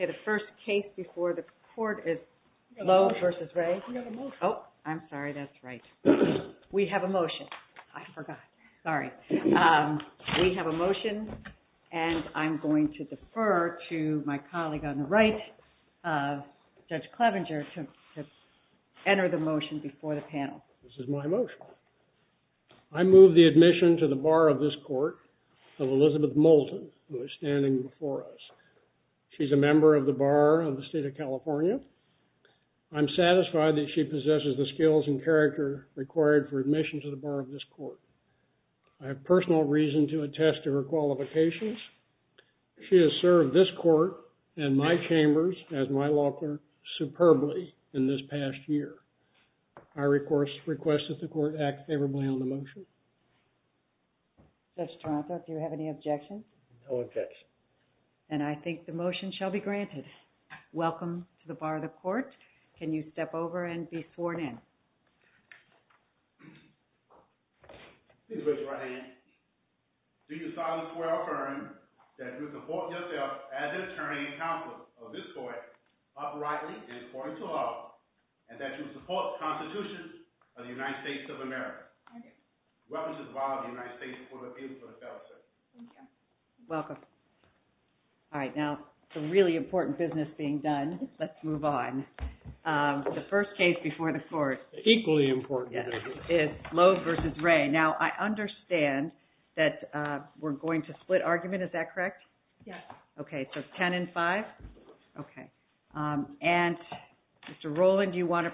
Oh, I'm sorry, that's right. We have a motion. I forgot. Sorry. We have a motion, and I'm going to defer to my colleague on the right, Judge Clevenger, to enter the motion before the panel. This is my motion. I move the admission to the Bar of this Court of Elizabeth Moulton, who is standing before us. She's a member of the Bar of the State of California. I'm satisfied that she possesses the skills and character required for admission to the Bar of this Court. I have personal reason to attest to her qualifications. She has served this Court and my chambers as my law clerk superbly in this past year. I request that the Court act favorably on the motion. Judge Toronto, do you have any objections? No objections. And I think the motion shall be granted. Welcome to the Bar of the Court. Can you step over and be sworn in? Please raise your right hand. Do you solemnly swear or affirm that you support yourself as an attorney and counsel of this Court uprightly and according to law, and that you support the Constitution of the United States of America, and the representative of the United States before the people of California, sir? Thank you. Welcome. All right. Now, some really important business being done. Let's move on. The first case before the Court. Equally important. Lowe versus Ray. Now, I understand that we're going to split argument. Is that correct? Yes. Okay. So 10 and 5? Okay. And Mr. Rowland, do you want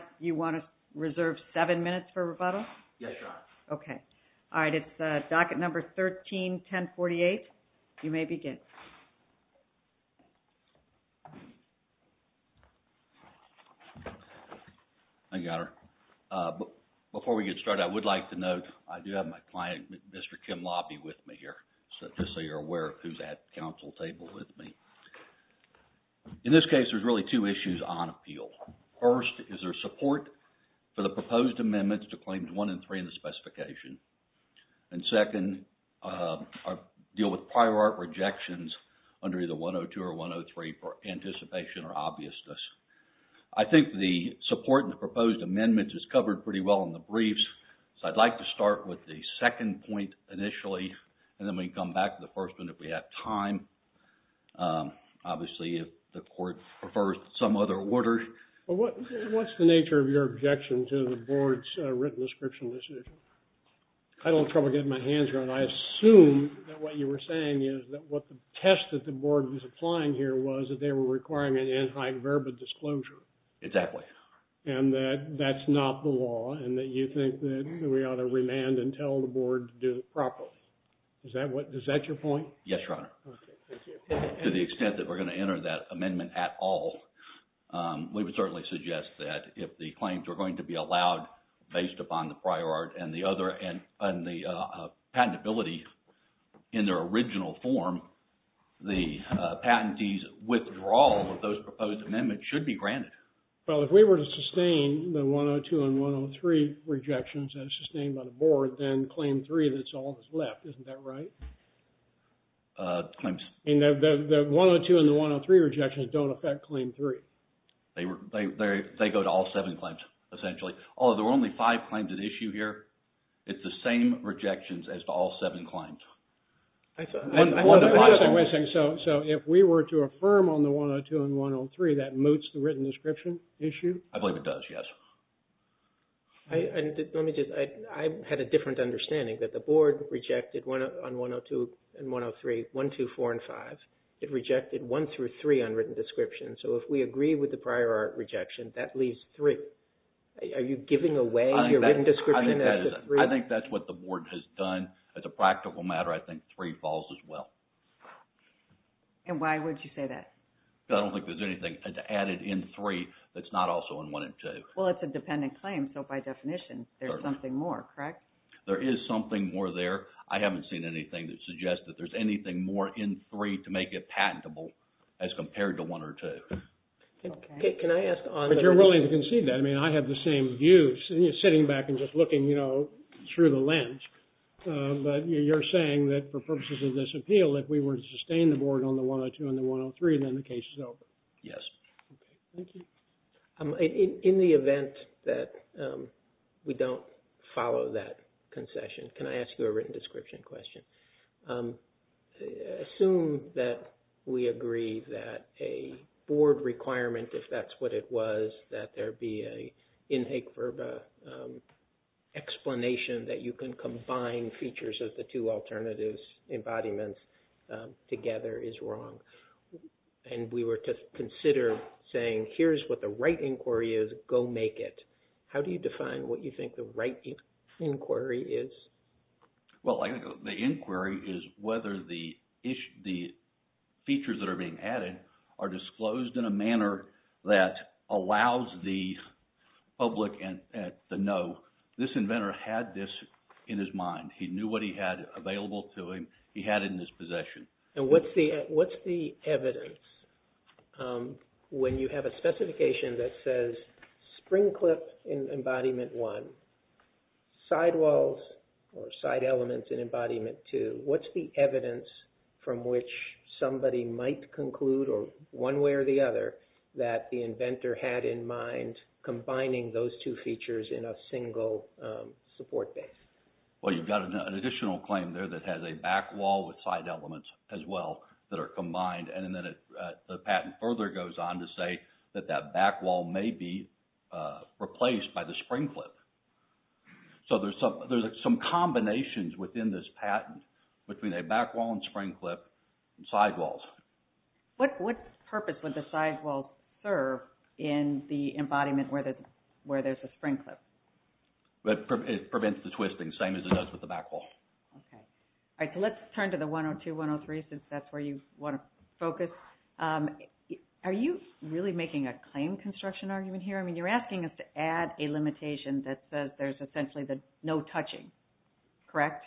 to reserve 7 minutes for rebuttal? Yes, Your Honor. Okay. All right. It's docket number 13-1048. You may begin. Thank you, Your Honor. Before we get started, I would like to note, I do have my client, Mr. Kim Lobby, with me here, just so you're aware of who's at the counsel table with me. In this case, there's really two issues on appeal. First, is there support for the proposed amendments to Claims 1 and 3 in the specification? And second, I deal with prior art rejection under either 102 or 103 for anticipation or obviousness. I think the support and proposed amendments is covered pretty well in the briefs, so I'd like to start with the second point initially, and then we can come back to the first one if we have time. Obviously, if the Court prefers some other orders. What's the nature of your objection to the Board's written description of this issue? I don't have trouble getting my hands around it, and I assume that what you were saying is that what the test that the Board was applying here was that they were requiring an anti-verba disclosure. Exactly. And that that's not the law, and that you think that we ought to remand and tell the Board to do it properly. Is that your point? Yes, Your Honor. Okay. Thank you. To the extent that we're going to enter that amendment at all, we would certainly suggest that if the claims are going to be allowed based upon the prior art and the patentability in their original form, the patentee's withdrawal of those proposed amendments should be granted. Well, if we were to sustain the 102 and 103 rejections as sustained by the Board, then Claim 3, that's all that's left. Isn't that right? Claims? The 102 and the 103 rejections don't affect Claim 3. They go to all seven claims, essentially. Although there were only five claims at issue here, it's the same rejections as to all seven claims. So, if we were to affirm on the 102 and 103, that moots the written description issue? I believe it does, yes. Let me just, I had a different understanding that the Board rejected on 102 and 103, 1, 2, 4, and 5. It rejected 1 through 3 on written description. So, if we agree with the prior rejection, that leaves 3. Are you giving away your written description? I think that's what the Board has done. As a practical matter, I think 3 falls as well. And why would you say that? I don't think there's anything added in 3 that's not also in 1 and 2. Well, it's a dependent claim. So, by definition, there's something more, correct? There is something more there. I haven't seen anything that suggests that there's anything more in 3 to make it patentable as compared to 1 or 2. But you're willing to concede that. I mean, I have the same view, sitting back and just looking, you know, through the lens. But you're saying that for purposes of this appeal, if we were to sustain the Board on the 102 and the 103, then the case is over? Yes. Thank you. In the event that we don't follow that concession, can I ask you a written description question? Assume that we agree that a Board requirement, if that's what it was, that there be an in hec verba explanation that you can combine features of the two alternative embodiments together is wrong. And we were to consider saying, here's what the right inquiry is, go make it. How do you define what you think the right inquiry is? Well, I think the inquiry is whether the features that are being added are disclosed in a manner that allows the public to know this inventor had this in his mind. He knew what he had available to him. He had it in his possession. And what's the evidence when you have a specification that says spring clip in embodiment one, sidewalls or side elements in embodiment two, what's the evidence from which somebody might conclude, or one way or the other, that the inventor had in mind combining those two features in a single support base? Well, you've got an additional claim there that has a back wall with side elements as well that are combined. And then the patent further goes on to say that that back wall may be replaced by the spring clip. So there's some combinations within this patent between a back wall and spring clip and sidewalls. What purpose would the sidewalls serve in the embodiment where there's a spring clip? It prevents the twisting. Same as it does with the back wall. Okay. All right. So let's turn to the 102-103 since that's where you want to focus. Are you really making a claim construction argument here? I mean, you're asking us to add a limitation that says there's essentially no touching. Correct?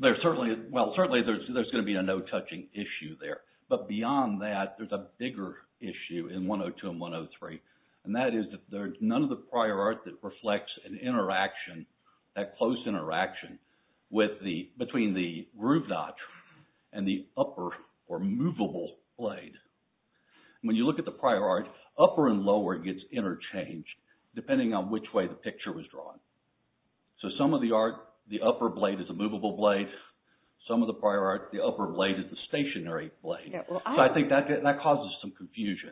Well, certainly there's going to be a no touching issue there. But beyond that, there's a bigger issue in 102 and 103. And that is that there's none of the prior art that reflects an interaction, that close interaction between the groove notch and the upper or movable blade. When you look at the prior art, upper and lower gets interchanged depending on which way the picture was drawn. So some of the art, the upper blade is a movable blade. Some of the prior art, the upper blade is a stationary blade. So I think that causes some confusion.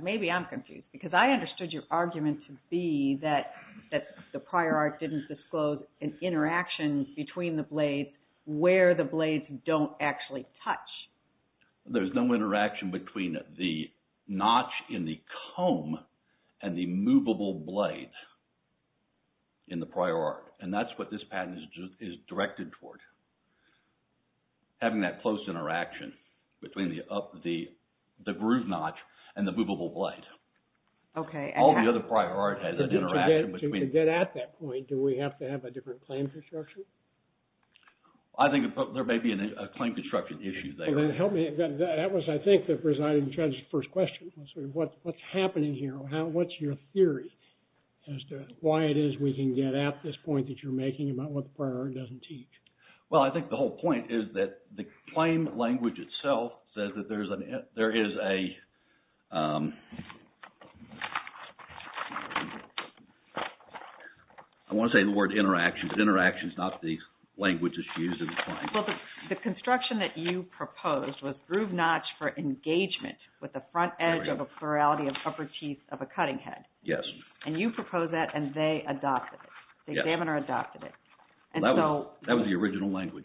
Maybe I'm confused because I understood your argument to be that the prior art didn't disclose an interaction between the blades where the blades don't actually touch. There's no interaction between the notch in the comb and the movable blade in the prior art. And that's what this patent is directed toward. Having that close interaction between the groove notch and the movable blade. All the other prior art has an interaction. To get at that point, do we have to have a different claim construction? I think there may be a claim construction issue there. What's happening here? What's your theory as to why it is we can get at this point that you're making about what the prior art doesn't teach? Well, I think the whole point is that the claim language itself says that there is a... I want to say the word interaction, but interaction is not the language that's used in the claim. The construction that you proposed was groove notch for engagement with the front edge of a plurality of upper teeth of a cutting head. Yes. And you proposed that and they adopted it. The examiner adopted it. That was the original language.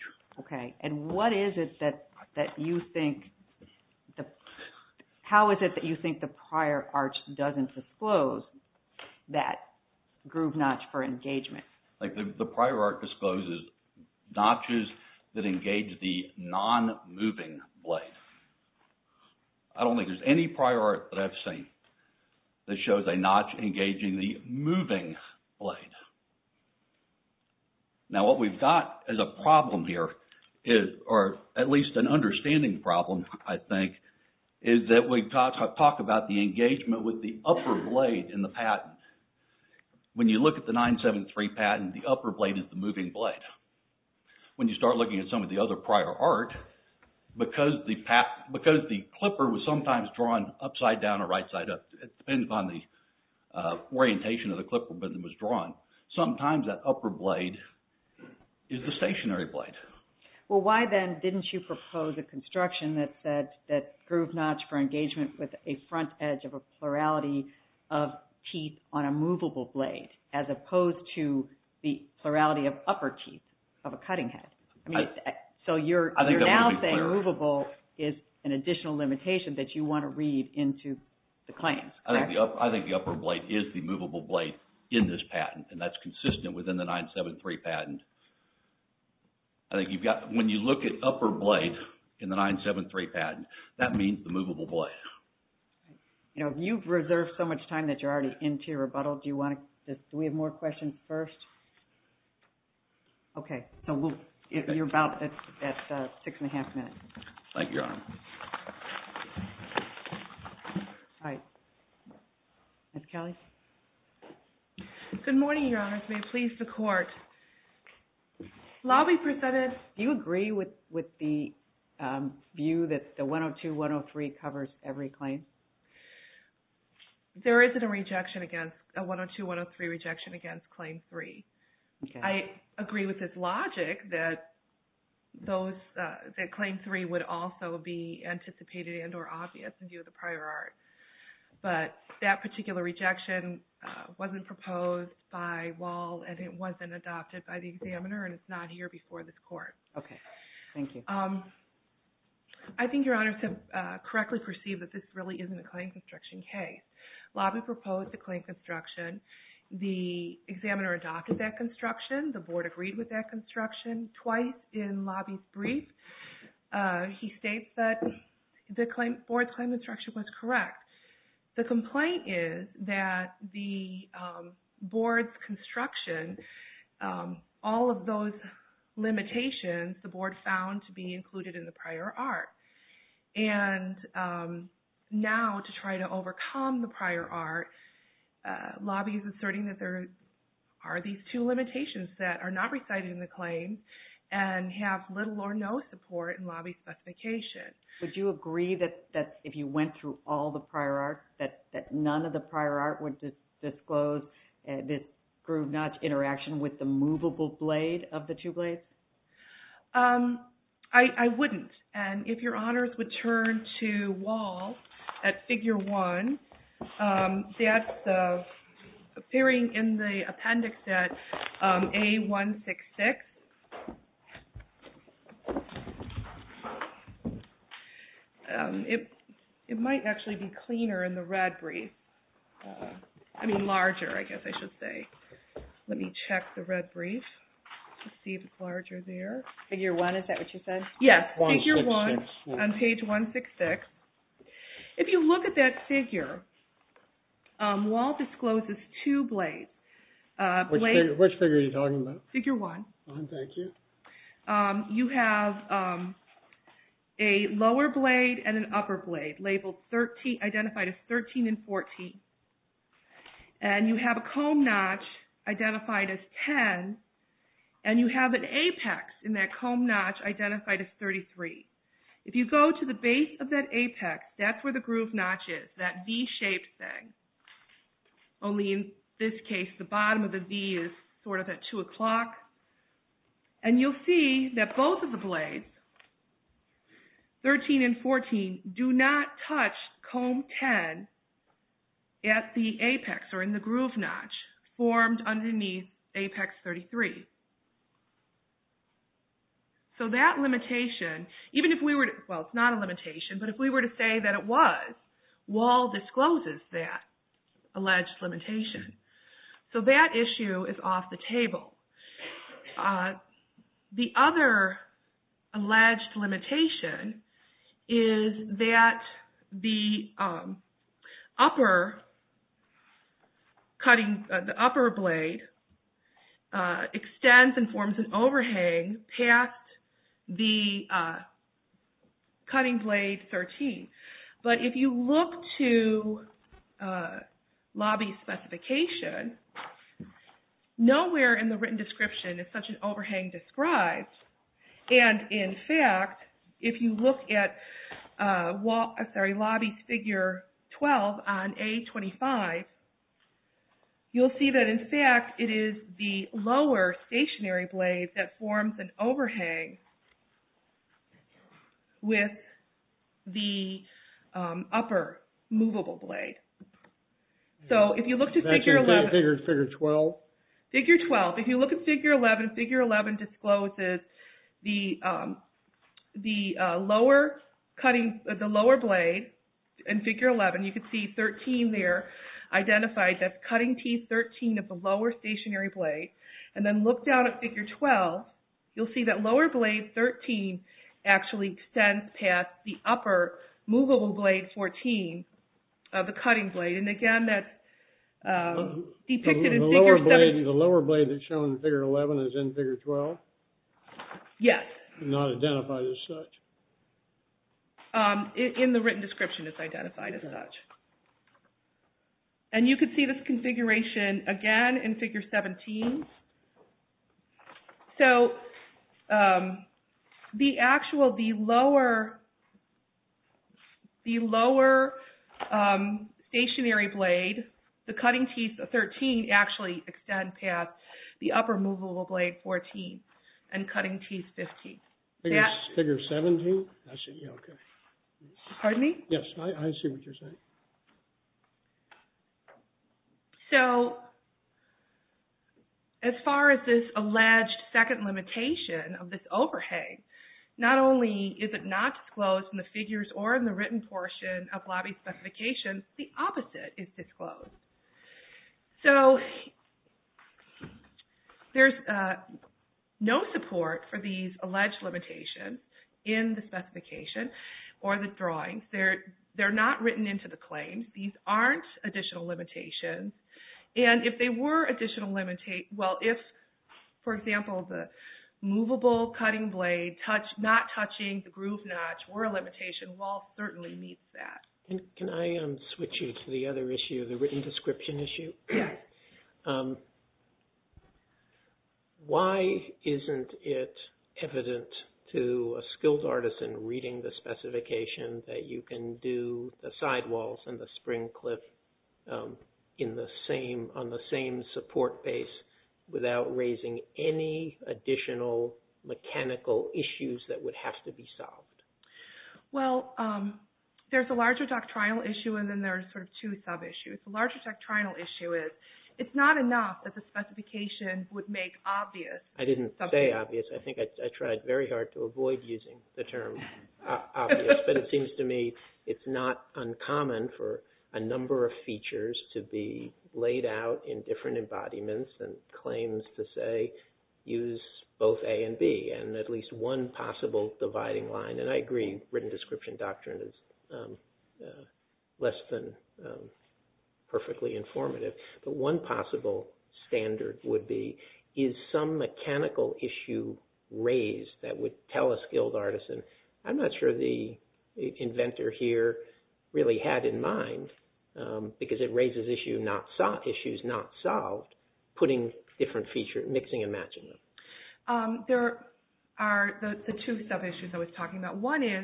How is it that you think the prior art doesn't disclose that groove notch for engagement? The prior art discloses notches that engage the non-moving blade. I don't think there's any prior art that I've seen that shows a notch engaging the moving blade. Now, what we've got as a problem here, or at least an understanding problem, I think, is that we talk about the engagement with the upper blade in the patent. When you look at the 973 patent, the upper blade is the moving blade. When you start looking at some of the other prior art, because the clipper was sometimes drawn upside down or right side up, it depends upon the orientation of the clipper that was drawn, sometimes that upper blade is the stationary blade. Well, why then didn't you propose a construction that said that groove notch for engagement with a front edge of a plurality of teeth on a movable blade as opposed to the plurality of upper teeth of a cutting head? You're now saying movable is an additional limitation that you want to read into the claim. I think the upper blade is the movable blade in this patent. That's consistent within the 973 patent. When you look at upper blade in the 973 patent, that means the movable blade. You've reserved so much time that you're already into your rebuttal. Do we have more questions first? Okay. You're about at six and a half minutes. Thank you, Your Honor. Ms. Kelly? Good morning, Your Honor. May it please the Court. Do you agree with the view that the 102-103 covers every claim? There isn't a 102-103 rejection against Claim 3. I agree with this logic that Claim 3 would also be anticipated and or obvious in view of the prior art. But that particular rejection wasn't proposed by Wahl and it wasn't adopted by the examiner and it's not here before this Court. Okay. Thank you. I think Your Honors have correctly perceived that this really isn't a claim construction case. Lobby proposed the claim construction. The examiner adopted that construction. The Board agreed with that construction. Twice in Lobby's brief, he states that the Board's claim construction was correct. The complaint is that the prior art. And now to try to overcome the prior art, Lobby is asserting that there are these two limitations that are not recited in the claim and have little or no support in Lobby's specification. Would you agree that if you went through all the prior art, that none of the prior art would disclose this groove notch interaction with the movable blade of the two blades? I wouldn't. And if Your Honors would turn to Wahl at Figure 1, that's appearing in the appendix at A-166. It might actually be cleaner in the red brief. I mean larger, I guess I should say. Let me check the red brief to see if it's larger there. Figure 1, is that what you said? Yes, Figure 1 on page 166. If you look at that figure, Wahl discloses two blades. Which figure are you talking about? Figure 1. Thank you. You have a lower blade and an upper blade, identified as 13 and 14. And you have a comb notch identified as 10. And you have an apex in that comb notch identified as 33. If you go to the base of that apex, that's where the groove notch is. That V-shaped thing. Only in this case, the bottom of the V is sort of at 2 o'clock. And you'll see that both of the blades, 13 and 14, do not touch comb 10 at the apex or in the groove notch formed underneath apex 33. So that limitation, well it's not a limitation, but if we were to say that it was, Wahl discloses that alleged limitation. So that issue is off the table. The other alleged limitation is that the upper blade extends and forms an overhang past the cutting blade 13. But if you look to lobby specification, nowhere in the written description is such an overhang described. And in fact, if you look at lobby figure 12 on A25, you'll see that in fact it is the lower stationary blade that forms an overhang with the upper movable blade. So if you look to figure 11, figure 11 discloses the lower blade in figure 11, you can see 13 there, identifies that cutting T13 of the lower stationary blade. And then look down at figure 12, you'll see that lower blade 13 actually extends past the upper movable blade 14 of the cutting blade. And again that's depicted in figure 12. The lower blade that's shown in figure 11 is in figure 12? Yes. Not identified as such? And you can see this configuration again in figure 17. So the actual, the lower stationary blade, the cutting T13 actually extends past the upper movable blade 14 and cutting T15. Figure 17? Pardon me? Yes, I see what you're saying. So as far as this alleged second limitation of this overhang, not only is it not disclosed in the figures or in the written portion of lobby specification, the opposite is disclosed. So there's no support for these alleged limitations in the specification or the drawings. They're not written into the claims. These aren't additional limitations. And if they were additional limitations, well if, for example, the movable cutting blade not touching the groove notch were a limitation, Walsh certainly meets that. Can I switch you to the other issue, the written description issue? Yes. Why isn't it evident to a skills artist in reading the specification that you can do the sidewalls and the spring cliff on the same support base without raising any additional mechanical issues that would have to be solved? Well, there's a larger doctrinal issue and then there's sort of two sub-issues. The larger doctrinal issue is it's not enough that the specification would make obvious. I didn't say obvious. I think I tried very hard to avoid using the term obvious, but it seems to me it's not uncommon for a number of features to be laid out in different embodiments and claims to say use both A and B and at least one possible dividing line. And I agree written description doctrine is less than perfectly informative, but one possible standard would be is some mechanical issue raised that would tell a skilled artisan I'm not sure the inventor here really had in mind, because it raises issues not solved, putting different features, mixing and matching them. There are the two sub-issues I was talking about. One is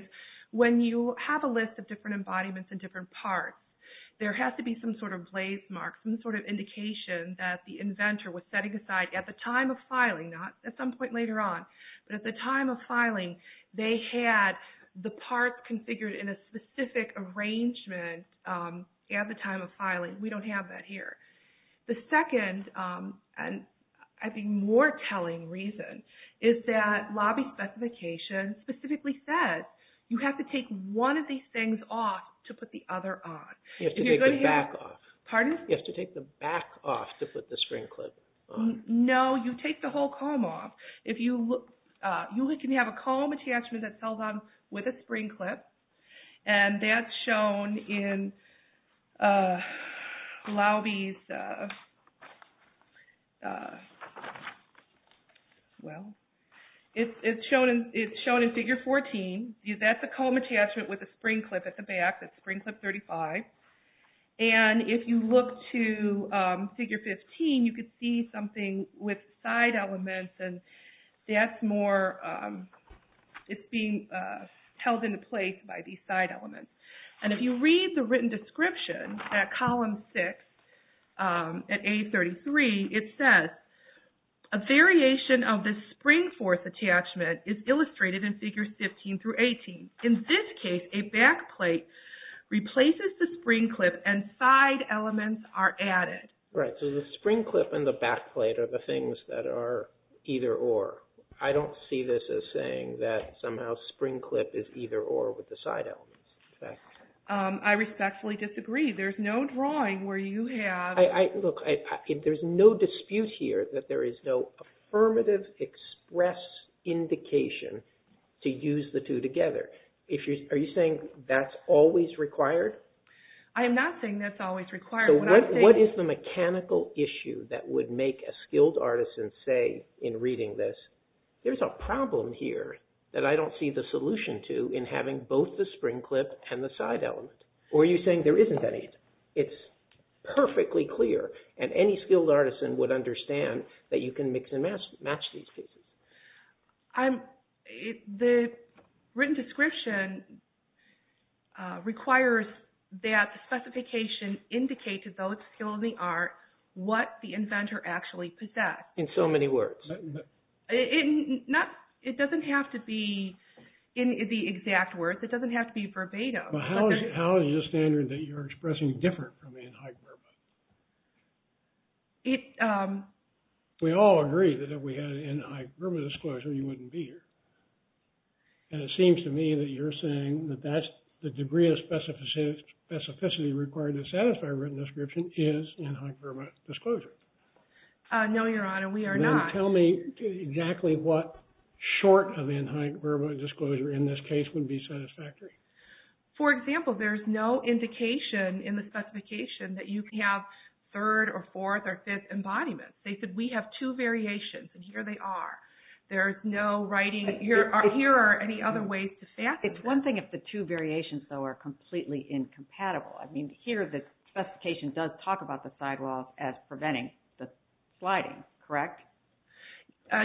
when you have a list of different embodiments and different parts, there has to be some sort of blaze mark, some sort of indication that the inventor was setting aside at the time of filing, not at some point later on, but at the time of filing they had the parts configured in a specific arrangement at the time of filing. We don't have that here. The second and I think more telling reason is that lobby specification specifically says you have to take one of these things off to put the other on. You have to take the back off. Pardon? You have to take the back off to put the spring clip on. No, you take the whole comb off. You can have a comb attachment that sells on with a spring clip and that's shown in lobby's well it's shown in figure 14, that's a comb attachment with a spring clip at the back, that's spring clip 35 and if you look to figure 15 you can see something with side elements and that's more it's being held into place by these side elements. And if you read the written description at column 6 at A33, it says a variation of this spring force attachment is illustrated in figures 15 through 18. In this case a back plate replaces the spring clip and side elements are added. Right, so the spring clip and the back plate are the things that are either or. I don't see this as saying that somehow spring clip is either or with the side elements. I respectfully disagree. There's no drawing where you have look, there's no dispute here that there is no affirmative express indication to use the two together. Are you saying that's always required? I am not saying that's always required. What is the mechanical issue that would make a skilled artisan say in reading this there's a problem here that I don't see the solution to in having both the spring clip and the side element. Or are you saying there isn't any? It's perfectly clear and any skilled artisan would understand that you can mix and match these pieces. The written description requires that the specification indicates to those skilled in the art what the inventor actually possessed. In so many words. It doesn't have to be in the exact words. It doesn't have to be verbatim. How is the standard that you're expressing different from in-hype verbatim? We all agree that if we had in-hype verbatim disclosure you wouldn't be here. And it seems to me that you're saying that that's the degree of specificity required to satisfy written description is in-hype verbatim disclosure. No, your honor, we are not. Then tell me exactly what short of in-hype verbatim disclosure in this case would be satisfactory? For example, there's no indication in the specification that you can have third or fourth or fifth embodiment. They said we have two variations and here they are. There's no writing. Here are any other ways to satisfy. It's one thing if the two variations though are completely incompatible. I mean, here the specification does talk about the sidewalls as preventing the sliding. Correct?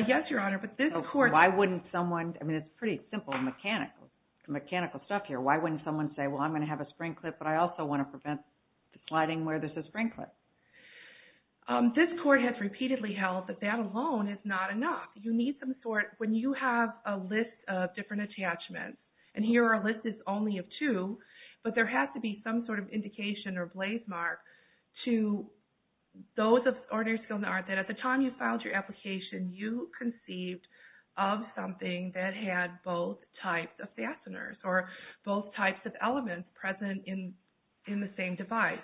Yes, your honor, but this court. Why wouldn't someone I mean, it's pretty simple and mechanical stuff here. Why wouldn't someone say well, I'm going to have a spring clip, but I also want to prevent the sliding where there's a spring clip. This court has repeatedly held that that alone is not enough. You need some sort. When you have a list of different attachments, and here our list is only of two, but there has to be some sort of indication or blaze mark to those of ordinary skill in the art that at the time you filed your application you conceived of something that had both types of fasteners or both types of elements present in the same device.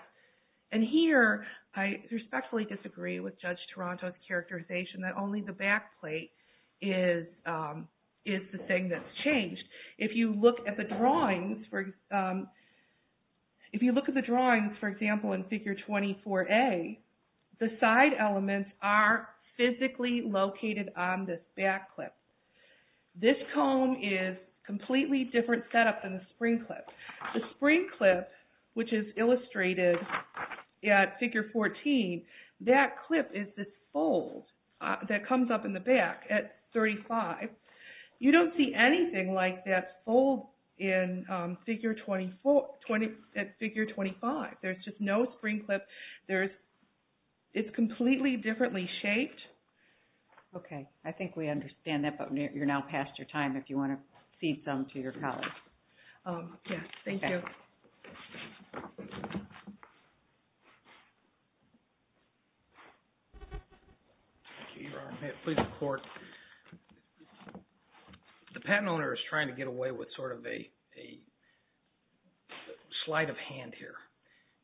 And here I respectfully disagree with Judge Toronto's characterization that only the backplate is the thing that's changed. If you look at the drawings if you look at the drawings, for example, in figure 24A, the side elements are physically located on this back clip. This comb is completely different setup than the spring clip. The spring clip which is illustrated at figure 14 that clip is this fold that comes up in the back at 35. You don't see anything like that fold in figure 24, at figure 25. There's just no spring clip. It's completely differently shaped. Okay, I think we understand that but you're now past your time if you want to cede some to your colleagues. Yes, thank you. The patent owner is trying to get away with sort of a slight of hand here.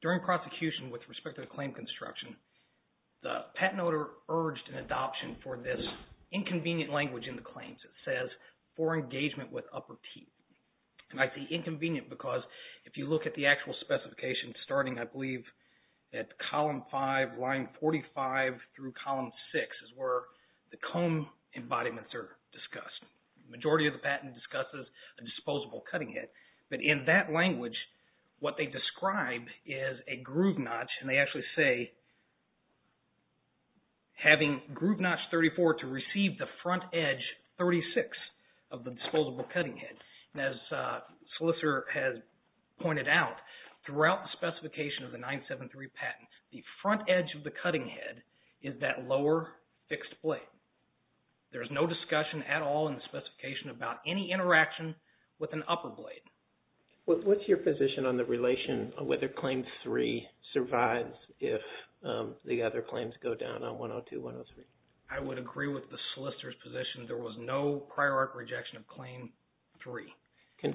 During prosecution with respect to the claim construction, the patent owner urged an adoption for this inconvenient language in the claims. It says for engagement with upper teeth. And I say inconvenient because if you look at the actual specification starting I believe at column 5, line 45 through column 6 is where the comb embodiments are discussed. The majority of the patent discusses a disposable cutting head. But in that language, what they describe is a groove notch and they actually say having groove notch 34 to receive the front edge 36 of the disposable cutting head. And as Slicer has pointed out, throughout the specification of the 973 patent, the front edge of the cutting head is that lower fixed blade. There's no discussion at all in the specification about any interaction with an upper blade. What's your position on the relation of whether Claim 3 survives if the other claims go down on 102, 103? I would agree with the solicitor's position. There was no prior art rejection of Claim 3.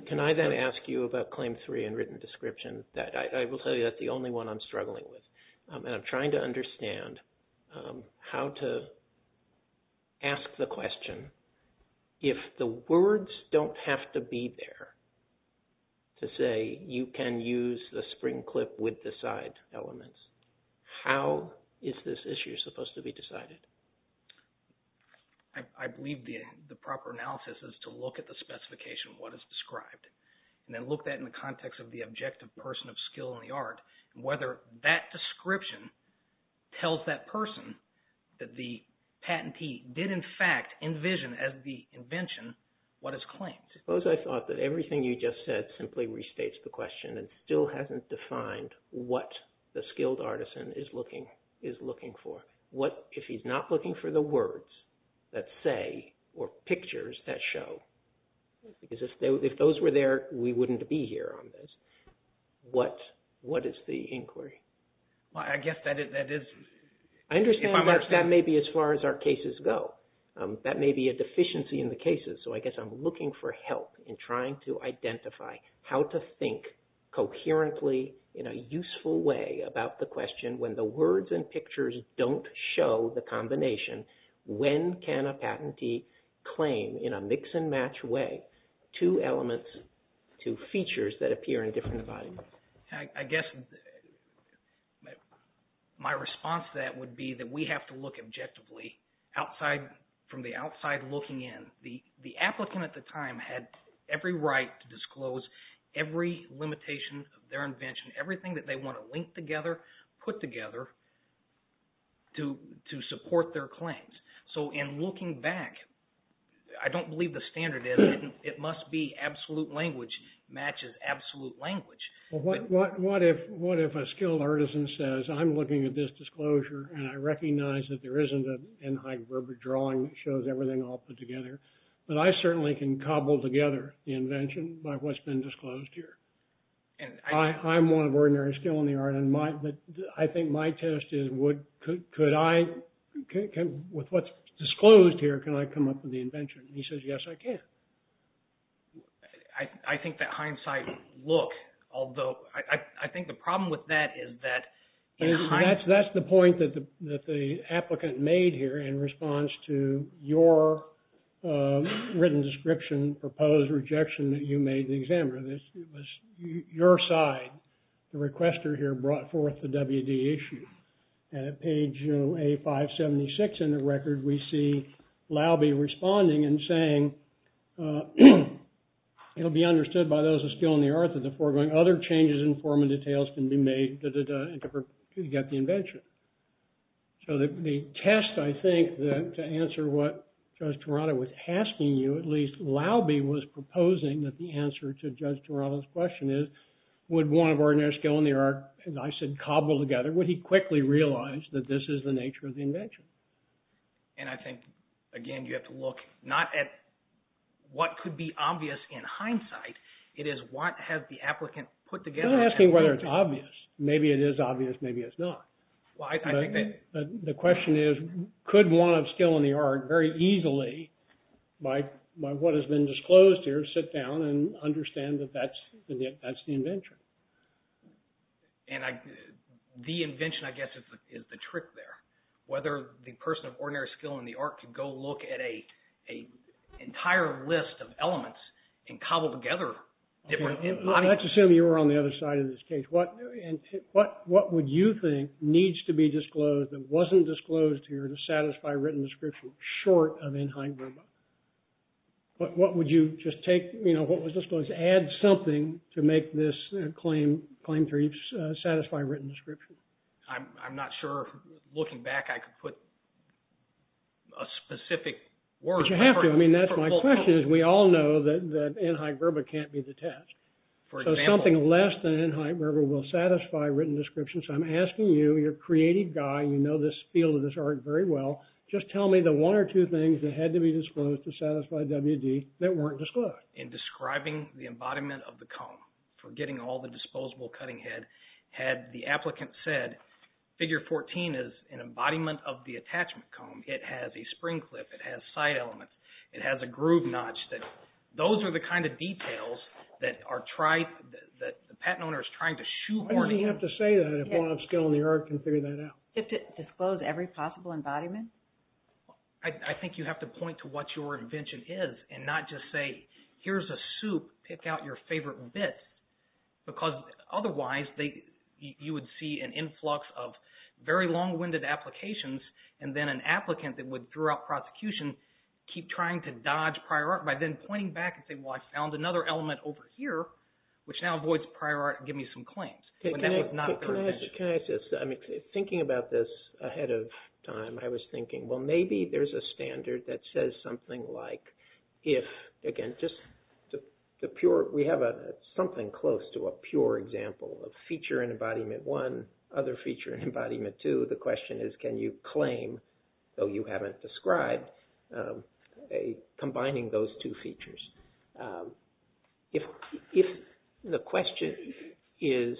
Can I then ask you about Claim 3 in written description? I will tell you that's the only one I'm struggling with. And I'm trying to understand how to ask the question. If the words don't have to be there to say you can use the spring clip with the side elements, how is this issue supposed to be decided? I believe the proper analysis is to look at the specification of what is described and then look at that in the context of the objective person of skill in the art and whether that description tells that person that the patentee did in fact envision as the invention what is claimed. Suppose I thought that everything you just said simply restates the question and still hasn't defined what the skilled artisan is looking for. If he's not looking for the words that say or pictures that show, because if those were there we wouldn't be here on this, what is the inquiry? I guess that is... I understand that may be as far as our cases go. That may be a deficiency in the cases, so I guess I'm looking for help in trying to identify how to think coherently in a useful way about the question when the words and pictures don't show the combination, when can a patentee claim in a mix and match way two elements to features that appear in different bodies? I guess my response to that would be that we have to look objectively from the outside looking in. The applicant at the time had every right to disclose every limitation of their invention, everything that they want to link together put together to support their claims. So in looking back, I don't believe the standard is, it must be absolute language matches absolute language. What if a skilled artisan says I'm looking at this disclosure and I recognize that there isn't a drawing that shows everything all put together, but I certainly can cobble together the invention by what's been disclosed here. I'm one of ordinary skill in the art, but I think my test is could I, with what's disclosed here, can I come up with the invention? He says yes I can. I think that hindsight look, although I think the problem with that is that. That's the point that the applicant made here in response to your written description, proposed rejection that you made the examiner. It was your side, the requester here brought forth the WD issue. And at page A576 in the record, we see Laube responding and saying it'll be understood by those of skill in the art that the you got the invention. The test, I think, to answer what Judge Tirado was asking you, at least Laube was proposing that the answer to Judge Tirado's question is, would one of ordinary skill in the art, as I said, cobble together, would he quickly realize that this is the nature of the invention? And I think, again, you have to look not at I'm not asking whether it's obvious. Maybe it is obvious, maybe it's not. The question is, could one of skill in the art very easily, by what has been disclosed here, sit down and understand that that's the invention? And the invention, I guess, is the trick there. Whether the person of ordinary skill in the art could go look at a entire list of elements and cobble together Let's assume you were on the other side of this case. What would you think needs to be disclosed that wasn't disclosed here to satisfy written description short of in high verba? What would you just take, you know, what was disclosed, add something to make this claim to satisfy written description? I'm not sure. Looking back, I could put a specific word. But you have to. I mean, that's my question. We all know that in high verba can't be the test. Something less than in high verba will satisfy written description. So I'm asking you, your creative guy, you know this field of this art very well, just tell me the one or two things that had to be disclosed to satisfy WD that weren't disclosed. In describing the embodiment of the comb, forgetting all the disposable cutting head, had the applicant said, figure 14 is an embodiment of the attachment comb. It has a spring clip. It has side elements. It has a groove notch. Those are the kind of details that the patent owner is trying to shoehorn Why does he have to say that if one upscale in the art can figure that out? Disclose every possible embodiment? I think you have to point to what your invention is and not just say, here's a soup, pick out your favorite bits. Because otherwise, you would see an influx of very long-winded applications and then an attempt to keep trying to dodge prior art by then pointing back and saying, well, I found another element over here, which now avoids prior art and give me some claims. But that was not the intention. Thinking about this ahead of time, I was thinking, well, maybe there's a standard that says something like if, again, just the pure, we have something close to a pure example of feature in Embodiment 1, other feature in Embodiment 2. The question is, can you claim though you haven't described, combining those two features? The question is,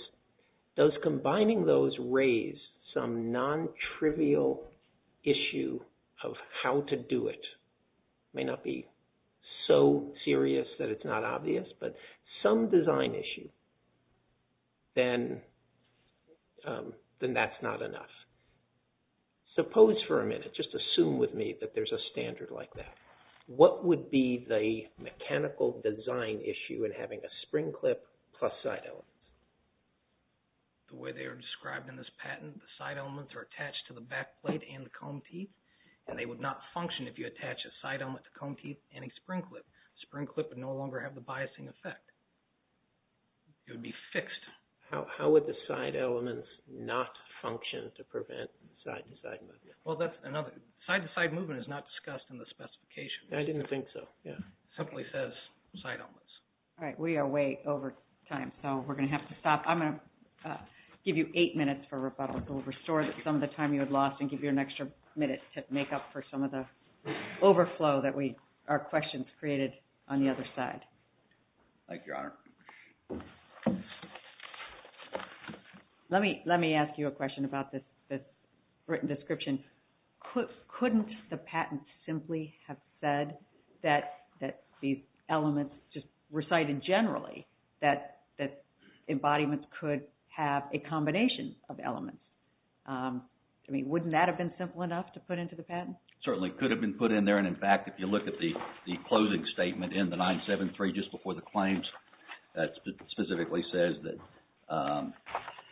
does combining those raise some non-trivial issue of how to do it? It may not be so serious that it's not obvious, but some design issue then that's not enough. Suppose for a minute, just assume with me that there's a standard like that. What would be the mechanical design issue in having a spring clip plus side elements? The way they are described in this patent, the side elements are attached to the back plate and the comb teeth, and they would not function if you attach a side element to comb teeth and a spring clip. Spring clip would no longer have the biasing effect. It would be fixed. How would the side elements not function to prevent side-to-side movement? Side-to-side movement is not discussed in the specification. I didn't think so. It simply says side elements. We are way over time, so we're going to have to stop. I'm going to give you eight minutes for rebuttal to restore some of the time you had lost and give you an extra minute to make up for some of the overflow that our questions created on the other side. Thank you, Your Honor. Let me ask you a question about this written description. Couldn't the patent simply have said that these elements just recited generally, that embodiments could have a combination of elements? Wouldn't that have been simple enough to put into the patent? It certainly could have been put in there. In fact, if you look at the closing statement in the 973 just before the claims that specifically says that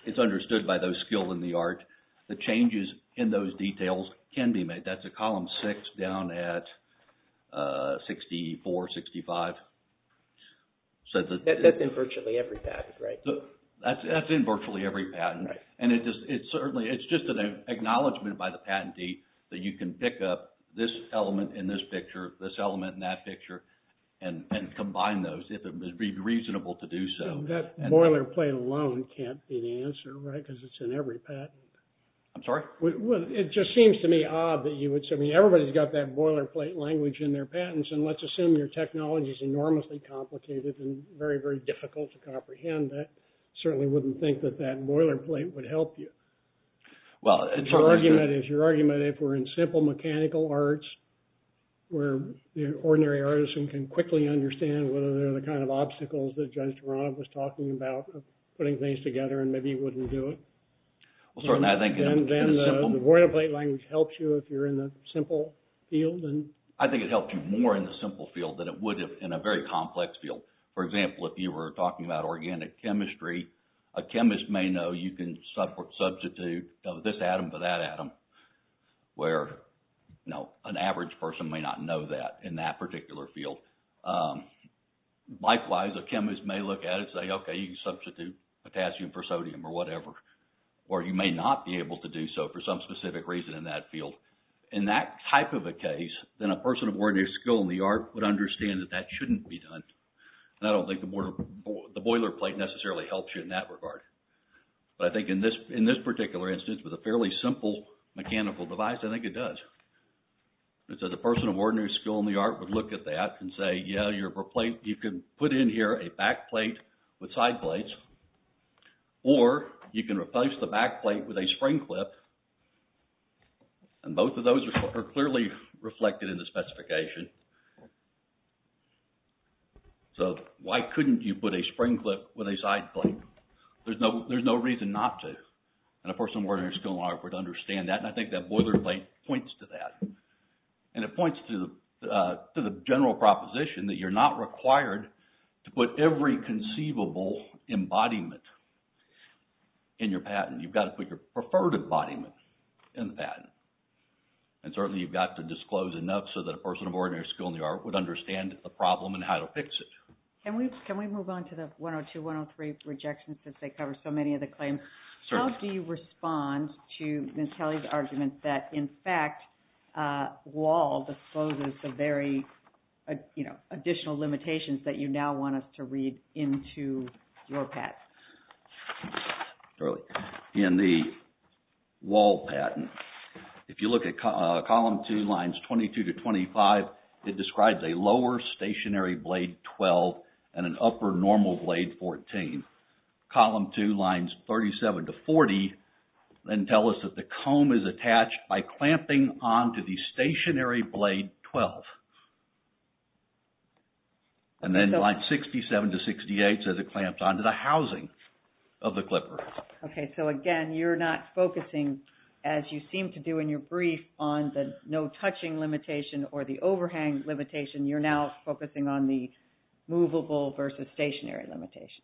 it's understood by those skilled in the art, the changes in those details can be made. That's at column 6 down at 64, 65. That's in virtually every patent, right? That's in virtually every patent. It's just an acknowledgement by the patentee that you can pick up this element in this picture, this element in that and refine those if it would be reasonable to do so. That boilerplate alone can't be the answer, right? Because it's in every patent. I'm sorry? It just seems to me odd that everybody's got that boilerplate language in their patents and let's assume your technology is enormously complicated and very, very difficult to comprehend. I certainly wouldn't think that that boilerplate would help you. Your argument is if we're in simple mechanical arts where the ordinary artisan can quickly understand whether they're the kind of obstacles that Judge Toronto was talking about of putting things together and maybe you wouldn't do it. Then the boilerplate language helps you if you're in the simple field. I think it helps you more in the simple field than it would in a very complex field. For example, if you were talking about organic chemistry, a chemist may know you can substitute this atom for that atom where an average person may not know that in that particular field. Likewise, a chemist may look at it and say, okay, you can substitute potassium for sodium or whatever. Or you may not be able to do so for some specific reason in that field. In that type of a case, then a person of ordinary skill in the art would understand that that shouldn't be done. And I don't think the boilerplate necessarily helps you in that regard. But I think in this particular instance with a fairly simple mechanical device, I think it does. So the person of ordinary skill in the art would look at that and say, yeah, you can put in here a backplate with side plates or you can replace the backplate with a spring clip and both of those are clearly reflected in the specification. So why couldn't you put a spring clip with a side plate? There's no reason not to. And a person of ordinary skill in the art would understand that. And I think that boilerplate points to that. And it points to the general proposition that you're not required to put every conceivable embodiment in your patent. You've got to put your preferred embodiment in the patent. And certainly you've got to disclose enough so that a person of ordinary skill in the art would understand the problem and how to fix it. Can we move on to the 102-103 rejections since they cover so many of the claims? How do you respond to Ms. Kelly's argument that, in fact, Wahl discloses the very additional limitations that you now want us to read into your patent? In the Wahl patent, if you look at column two lines 22-25, it describes a lower stationary blade 12 and an upper normal blade 14. Column two lines 37-40 then tell us that the comb is attached by clamping onto the stationary blade 12. And then line 67-68 says it clamps onto the housing of the clipper. Okay, so again, you're not focusing as you seem to do in your brief on the no touching limitation or the overhang limitation. You're now focusing on the movable versus stationary limitation.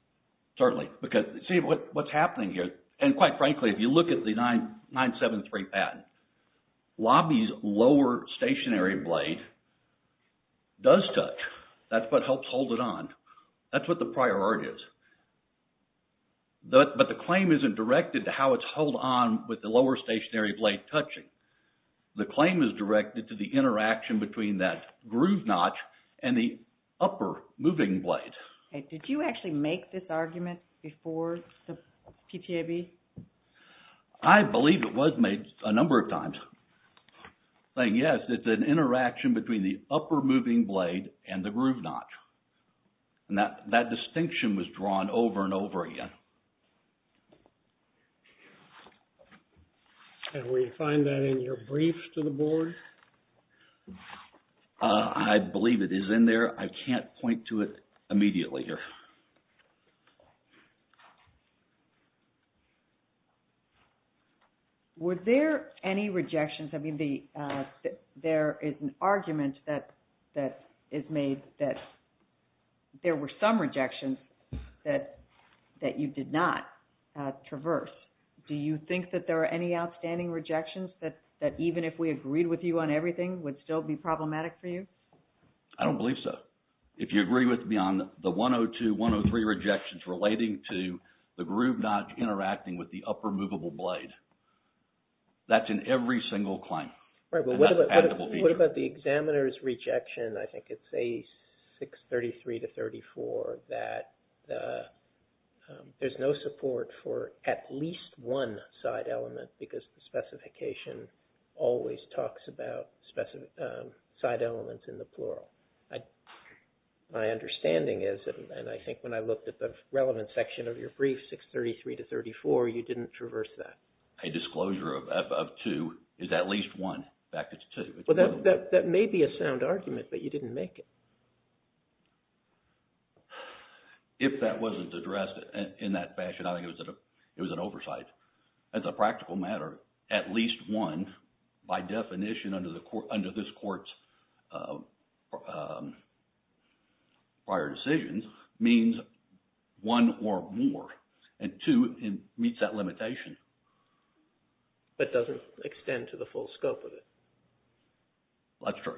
Certainly. Because, see, what's happening here, and quite frankly, if you look at the 973 patent, Lobby's lower stationary blade does touch. That's what helps hold it on. That's what the priority is. But the claim isn't directed to how it's held on with the lower stationary blade touching. The claim is directed to the interaction between that groove notch and the upper moving blade. Did you actually make this argument before the PTAB? I believe it was made a number of times. Yes, it's an interaction between the upper moving blade and the groove notch. That distinction was drawn over and over again. Can we find that in your brief to the board? I believe it is in there. I can't point to it immediately here. Were there any rejections? I mean, there is an argument that is made that there were some rejections that you did not traverse. Do you think that there are any outstanding rejections that even if we agreed with you on everything would still be problematic for you? I don't believe so. If you agree with me on the 102, 103 rejections relating to the groove notch interacting with the upper movable blade, that's in every single claim. What about the examiner's rejection, I think it's a 633-34 that there's no support for at least one side element because the specification always talks about side elements in the plural. My understanding is, and I think when I looked at the relevant section of your brief, 633-34, you didn't traverse that. A disclosure of two is at least one. In fact, it's two. That may be a sound argument, but you didn't make it. If that wasn't addressed in that fashion, I think it was an oversight. As a practical matter, at least one by definition under this court's prior decisions means one or more, and two, it meets that limitation. But doesn't extend to the full scope of it. That's true.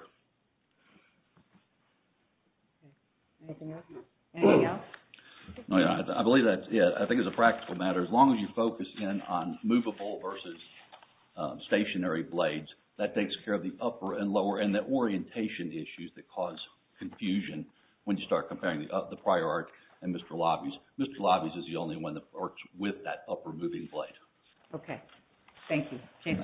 Anything else? I think as a practical matter, as long as you focus in on movable versus stationary blades, that takes care of the upper and lower and the orientation issues that cause confusion when you start comparing the prior art and Mr. Lobby's. Mr. Lobby's is the only one that works with that upper moving blade. Okay. Thank you. Thank you.